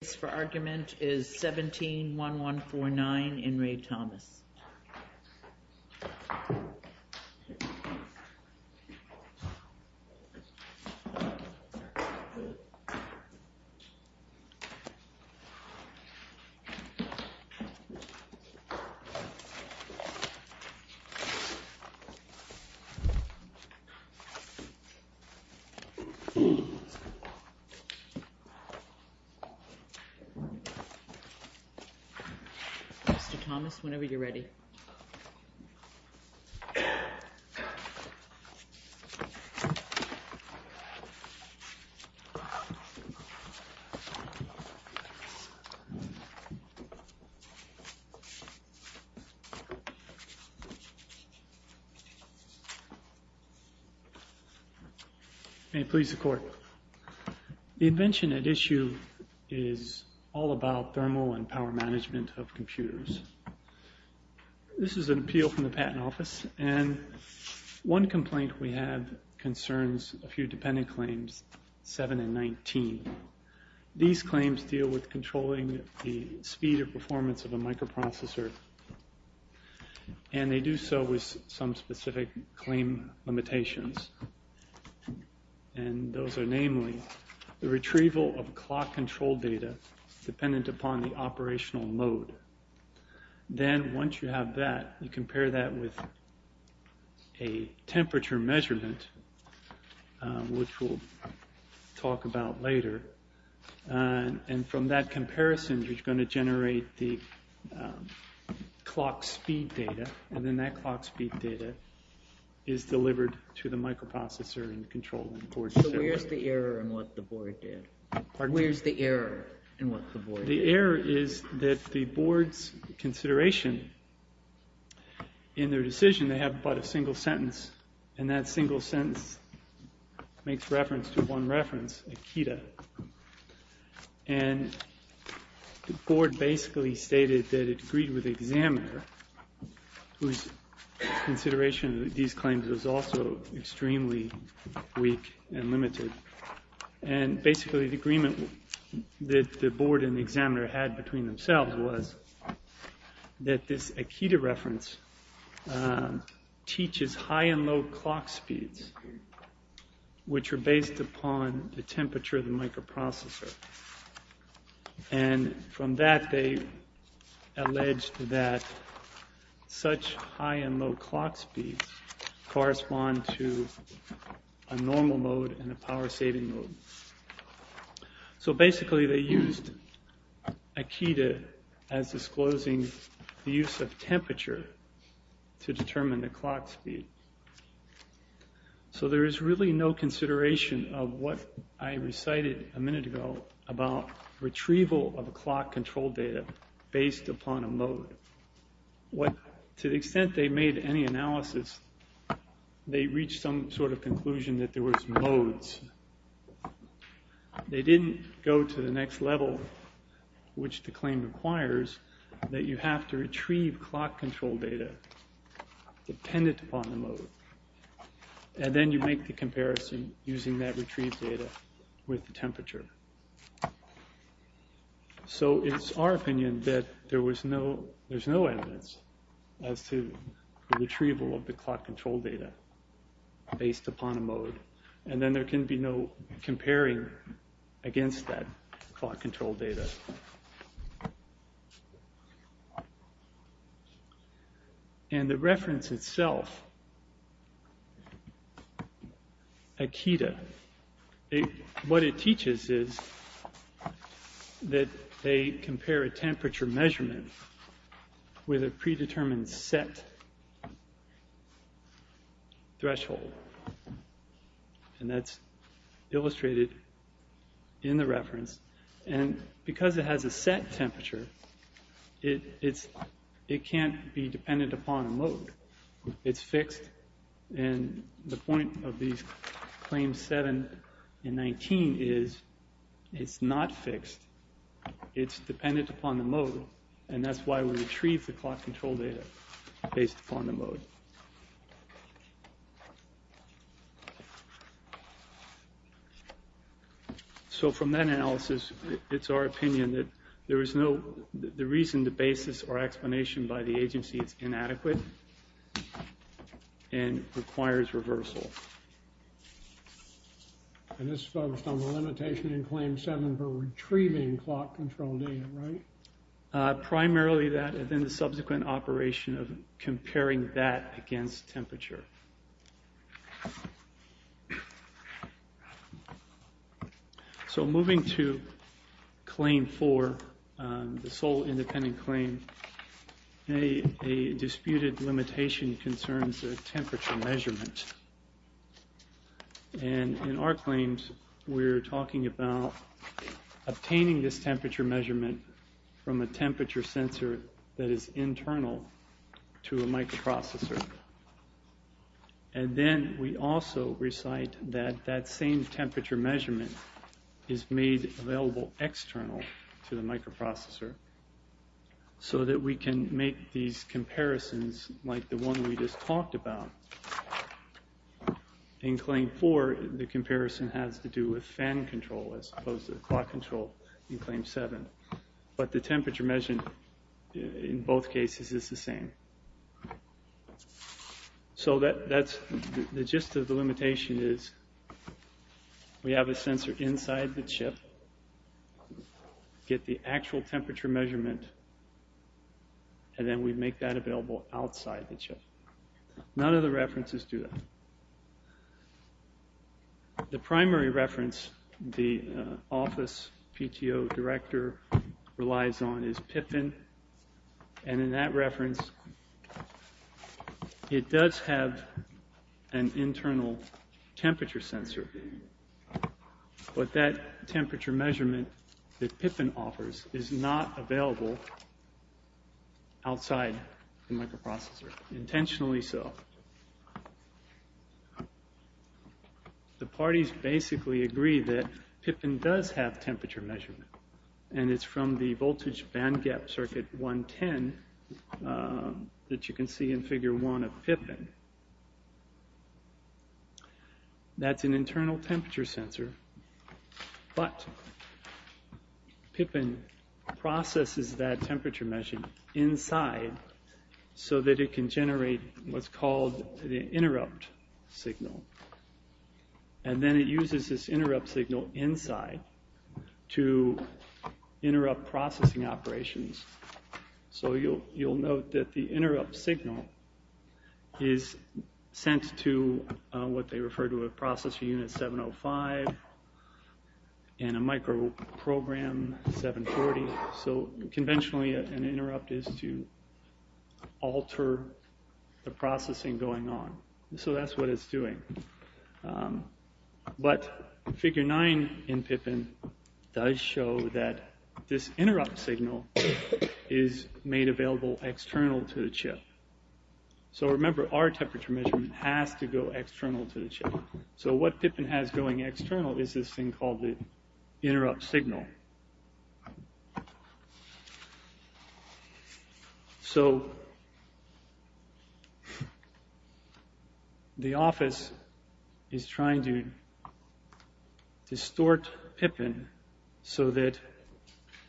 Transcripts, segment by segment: The case for argument is 17-1149, In Re Thomas. Mr. Thomas, whenever you're ready. May it please the court. The invention at issue is all about thermal and power management of computers. This is an appeal from the patent office, and one complaint we have concerns a few dependent claims, 7 and 19. These claims deal with controlling the speed or performance of a microprocessor, and they do so with some specific claim limitations. And those are namely, the retrieval of clock control data dependent upon the operational mode. Then once you have that, you compare that with a temperature measurement, which we'll talk about later. And from that comparison, you're going to generate the clock speed data. And then that clock speed data is delivered to the microprocessor and controlled. Where's the error in what the board did? The error is that the board's consideration in their decision, they have but a single sentence. And that single sentence makes reference to one reference, Akita. And the board basically stated that it agreed with the examiner, whose consideration of these claims was also extremely weak and limited. And basically the agreement that the board and the examiner had between themselves was that this Akita reference teaches high and low clock speeds, which are based upon the temperature of the microprocessor. And from that, they alleged that such high and low clock speeds correspond to a normal mode and a power system. So basically they used Akita as disclosing the use of temperature to determine the clock speed. So there is really no consideration of what I recited a minute ago about retrieval of a clock control data based upon a mode. To the extent they made any analysis, they reached some sort of conclusion that there was modes. They didn't go to the next level, which the claim requires that you have to retrieve clock control data dependent upon the mode. And then you make the comparison using that retrieved data with the temperature. So it's our opinion that there's no evidence as to the retrieval of the clock control data based upon a mode. And then there can be no comparing against that clock control data. And the reference itself, Akita, what it teaches is that they compare a temperature measurement with a predetermined set threshold. And that's illustrated in the reference. And because it has a set temperature, it can't be dependent upon a mode. It's fixed, and the point of these claims 7 and 19 is it's not fixed. It's dependent upon the mode, and that's why we retrieve the clock control data based upon the mode. So from that analysis, it's our opinion that the reason the basis or explanation by the agency is inadequate and requires reversal. And this is focused on the limitation in claim 7 for retrieving clock control data, right? Primarily that, and then the subsequent operation of comparing that against temperature. So moving to claim 4, the sole independent claim, a disputed limitation concerns a temperature measurement. And in our claims, we're talking about obtaining this temperature measurement from a temperature sensor that is internal to a microprocessor. And then we also recite that that same temperature measurement is made available external to the microprocessor, so that we can make these comparisons like the one we just talked about. In claim 4, the comparison has to do with fan control as opposed to clock control in claim 7. But the temperature measurement in both cases is the same. So the gist of the limitation is we have a sensor inside the chip, get the actual temperature measurement, and then we make that available outside the chip. None of the references do that. The primary reference the office PTO director relies on is PIPIN. And in that reference, it does have an internal temperature sensor. But that temperature measurement that PIPIN offers is not available outside the microprocessor, intentionally so. The parties basically agree that PIPIN does have temperature measurement. And it's from the voltage bandgap circuit 110 that you can see in figure 1 of PIPIN. That's an internal temperature sensor. But PIPIN processes that temperature measurement inside so that it can generate what's called the interrupt signal. And then it uses this interrupt signal inside to interrupt processing operations. So you'll note that the interrupt signal is sent to what they refer to as processor unit 705 and a microprogram 740. So conventionally an interrupt is to alter the processing going on. So that's what it's doing. But figure 9 in PIPIN does show that this interrupt signal is made available external to the chip. So remember, our temperature measurement has to go external to the chip. So what PIPIN has going external is this thing called the interrupt signal. The office is trying to distort PIPIN so that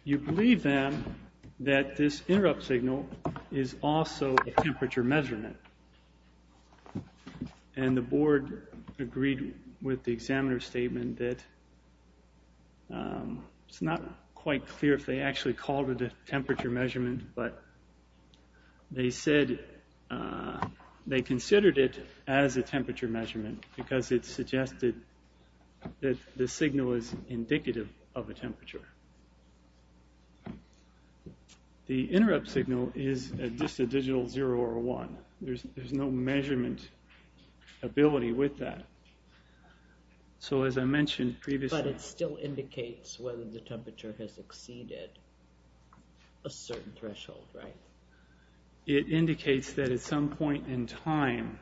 you believe them that this interrupt signal is also a temperature measurement. And the board agreed with the examiner's statement that it's not quite clear if they actually called it a temperature measurement. But they said they considered it as a temperature measurement because it suggested that the signal is indicative of a temperature. The interrupt signal is just a digital 0 or a 1. There's no measurement ability with that. But it still indicates whether the temperature has exceeded a certain threshold, right? It indicates that at some point in time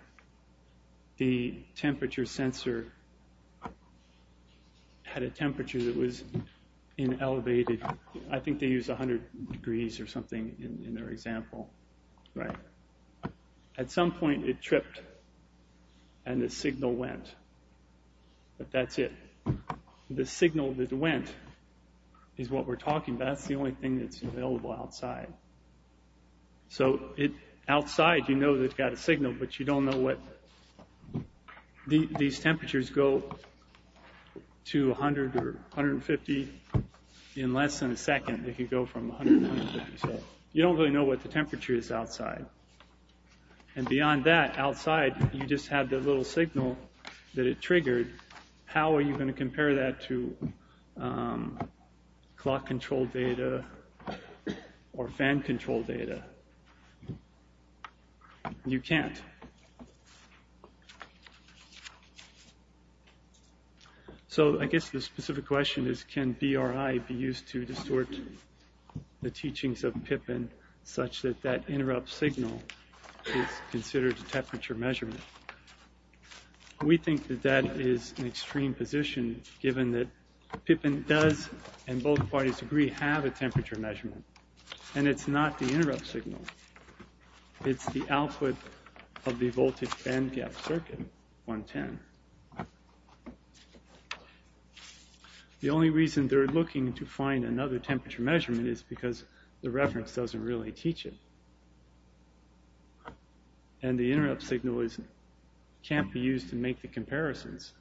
the temperature sensor had a temperature that was elevated. I think they used 100 degrees or something in their example. At some point it tripped and the signal went. But that's it. The signal that went is what we're talking about. That's the only thing that's available outside. Outside you know you've got a signal, but you don't know what these temperatures go to. You can go from 0 to 100 or 150 in less than a second if you go from 100 to 150. You don't really know what the temperature is outside. And beyond that, outside you just have the little signal that it triggered. How are you going to compare that to clock control data or fan control data? You can't. The specific question is can BRI be used to distort the teachings of PIPIN such that that interrupt signal is considered a temperature measurement? We think that that is an extreme position given that PIPIN does, and both parties agree, have a temperature measurement. And it's not the interrupt signal. It's the output of the voltage bandgap circuit, 110. The only reason they're looking to find another temperature measurement is because the reference doesn't really teach it. And the interrupt signal can't be used to make the comparisons.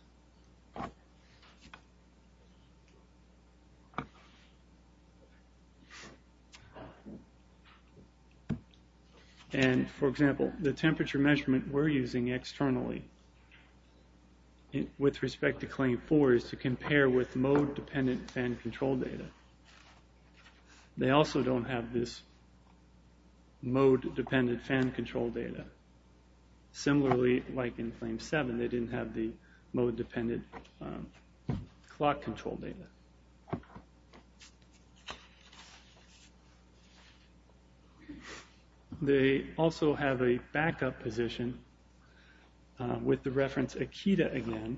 And, for example, the temperature measurement we're using externally with respect to Claim 4 is to compare with mode-dependent fan control data. They also don't have this mode-dependent fan control data. Similarly, like in Claim 7, they didn't have the mode-dependent clock control data. They also have a backup position with the reference Akita again.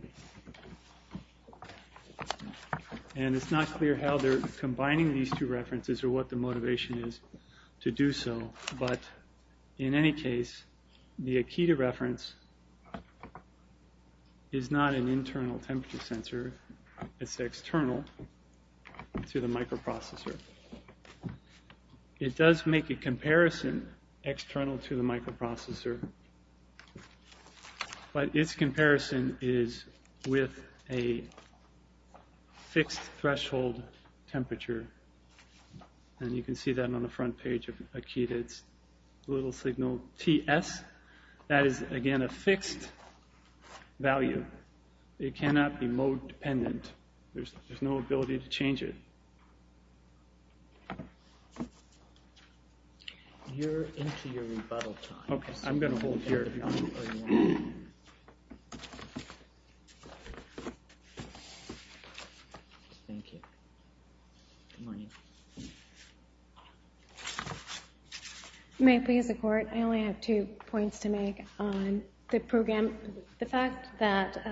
And it's not clear how they're combining these two references or what the motivation is to do so. But in any case, the Akita reference is not an internal temperature sensor. It's external to the microprocessor. It does make a comparison external to the microprocessor. But its comparison is with a fixed threshold temperature. And you can see that on the front page of Akita. It's a little signal, TS. That is, again, a fixed value. It cannot be mode-dependent. There's no ability to change it. May it please the Court, I only have two points to make on the program. One, the fact that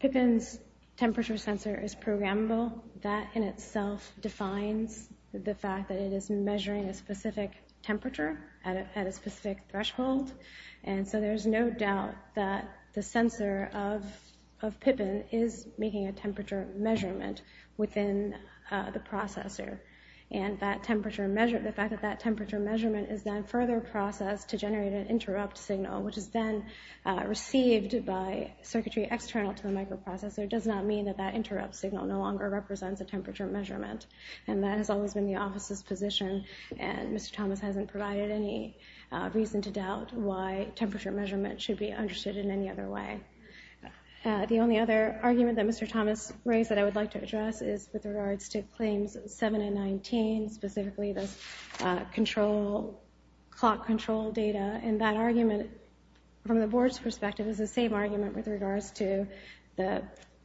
Pippin's temperature sensor is programmable, that in itself defines the fact that it is measuring a specific temperature at a specific threshold. And so there's no doubt that the sensor of Pippin is making a temperature measurement within the processor. And the fact that that temperature measurement is then further processed to generate an interrupt signal, which is then received by circuitry external to the microprocessor, does not mean that that interrupt signal no longer represents a temperature measurement. And that has always been the Office's position, and Mr. Thomas hasn't provided any reason to doubt why temperature measurement should be understood in any other way. The only other argument that Mr. Thomas raised that I would like to address is with regards to Claims 7 and 19, specifically the clock control data. And that argument, from the Board's perspective, is the same argument with regards to the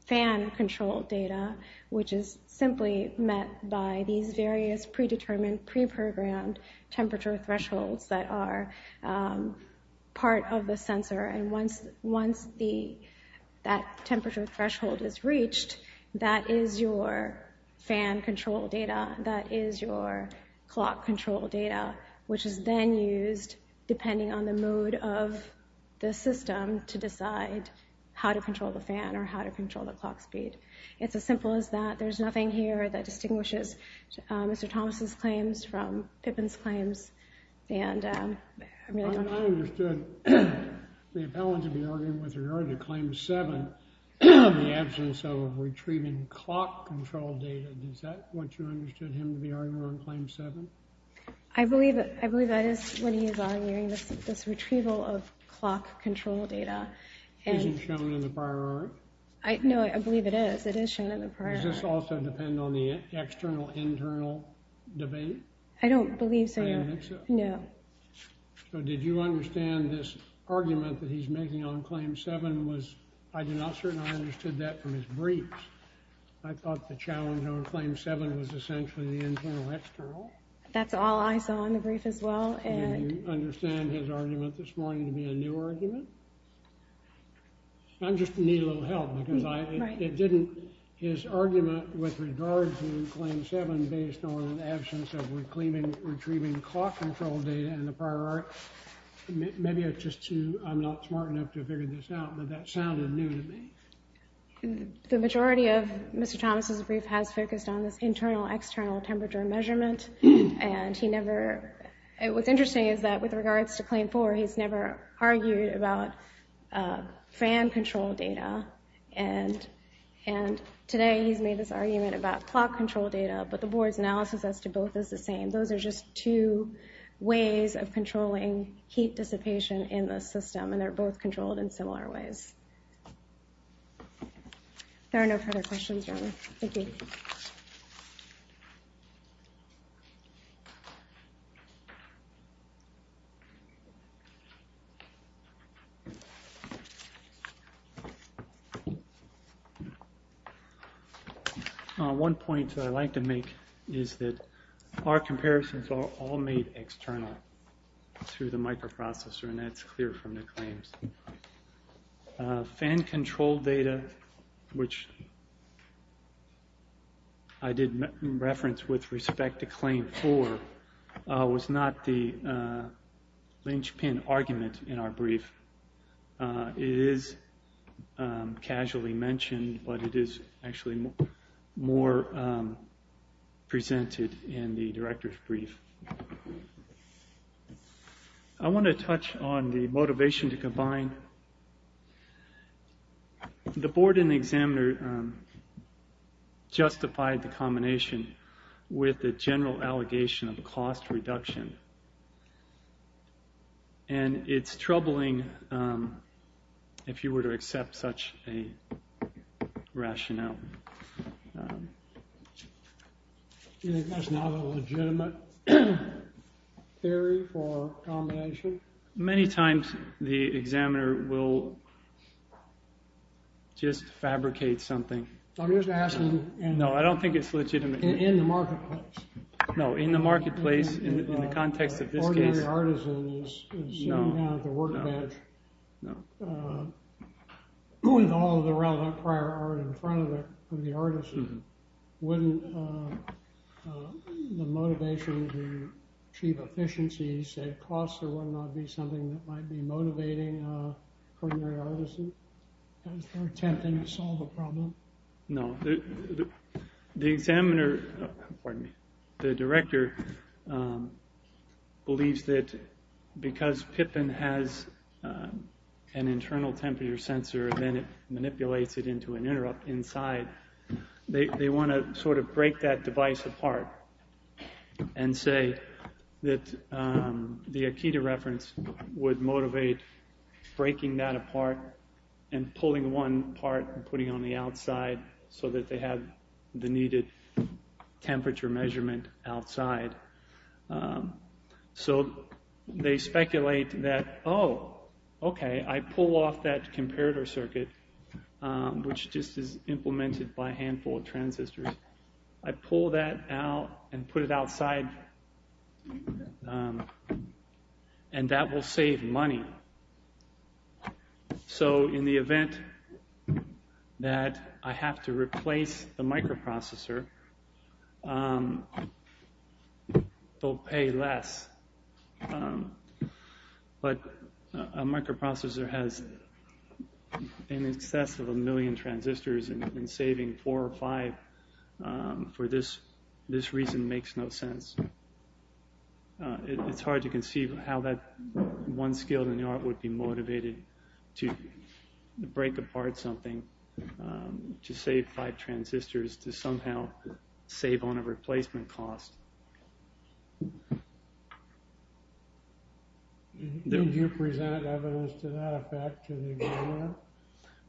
fan control data, which is simply met by these various predetermined, preprogrammed temperature thresholds that are part of the sensor. And once that temperature threshold is reached, that is your fan control data, that is your clock control data, which is then used, depending on the mode of the system, to decide how to control the fan or how to control the clock speed. It's as simple as that. There's nothing here that distinguishes Mr. Thomas' claims from Pippin's claims. I understood the appellant to be arguing with regard to Claim 7, the absence of retrieving clock control data. Is that what you understood him to be arguing on Claim 7? I believe that is what he is arguing, this retrieval of clock control data. Isn't shown in the prior article? No, I believe it is. It is shown in the prior article. Does this also depend on the external-internal debate? I don't believe so, no. So did you understand this argument that he is making on Claim 7? I did not certainly understand that from his briefs. I thought the challenge on Claim 7 was essentially the internal-external. Did you understand his argument this morning to be a new argument? I just need a little help. His argument with regard to Claim 7 based on the absence of retrieving clock control data in the prior article, maybe I'm not smart enough to figure this out, but that sounded new to me. The majority of Mr. Thomas' brief has focused on this internal-external temperature measurement. What's interesting is that with regards to Claim 4, he's never argued about fan control data, and today he's made this argument about clock control data, but the board's analysis as to both is the same. Those are just two ways of controlling heat dissipation in the system, and they're both controlled in similar ways. There are no further questions. Thank you. One point that I'd like to make is that our comparisons are all made external to the microprocessor, and that's clear from the claims. Fan control data, which I did reference with respect to Claim 4, was not the linchpin argument in our brief. It is casually mentioned, but it is actually more presented in the director's brief. I want to touch on the motivation to combine. The board and the examiner justified the combination with the general allegation of cost reduction, and it's troubling if you were to accept such a rationale. That's not a legitimate theory for combination? Many times the examiner will just fabricate something. No, I don't think it's legitimate. In the context of this case, no. With all the relevant prior art in front of it, wouldn't the motivation to achieve efficiency and cost or whatnot be something that might be motivating for your artists in their attempt to solve a problem? The director believes that because PIPN has an internal temperature sensor, then it manipulates it into an interrupt inside. They want to break that device apart and say that the Akita reference would motivate breaking that apart and pulling one part and putting it on the outside so that they have the needed temperature measurement outside. They speculate that, oh, okay, I pull off that comparator circuit, which just is implemented by a handful of transistors. I pull that out and put it outside, and that will save money. In the event that I have to replace the microprocessor, they'll pay less. But a microprocessor has in excess of a million transistors, and saving four or five for this reason makes no sense. It's hard to conceive how that one skill in the art would be motivated to break apart something, to save five transistors, to somehow save on a replacement cost. Did you present evidence to that effect?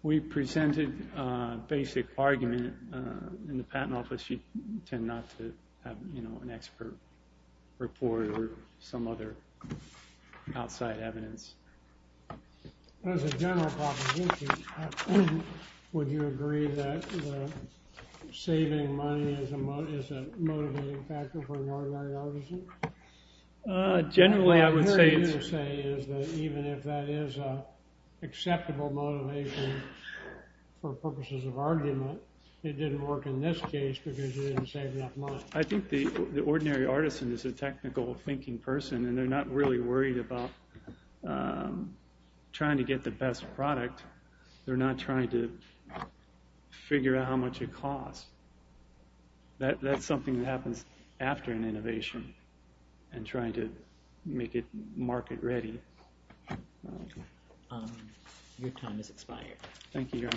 We presented basic argument. In the patent office, you tend not to have an expert report or some other outside evidence. As a general proposition, would you agree that saving money is a motivating factor for an ordinary artisan? Even if that is an acceptable motivation for purposes of argument, it didn't work in this case because you didn't save enough money. I think the ordinary artisan is a technical thinking person, and they're not really worried about trying to get the best product. They're not trying to figure out how much it costs. That's something that happens after an innovation and trying to make it market ready. Thank you.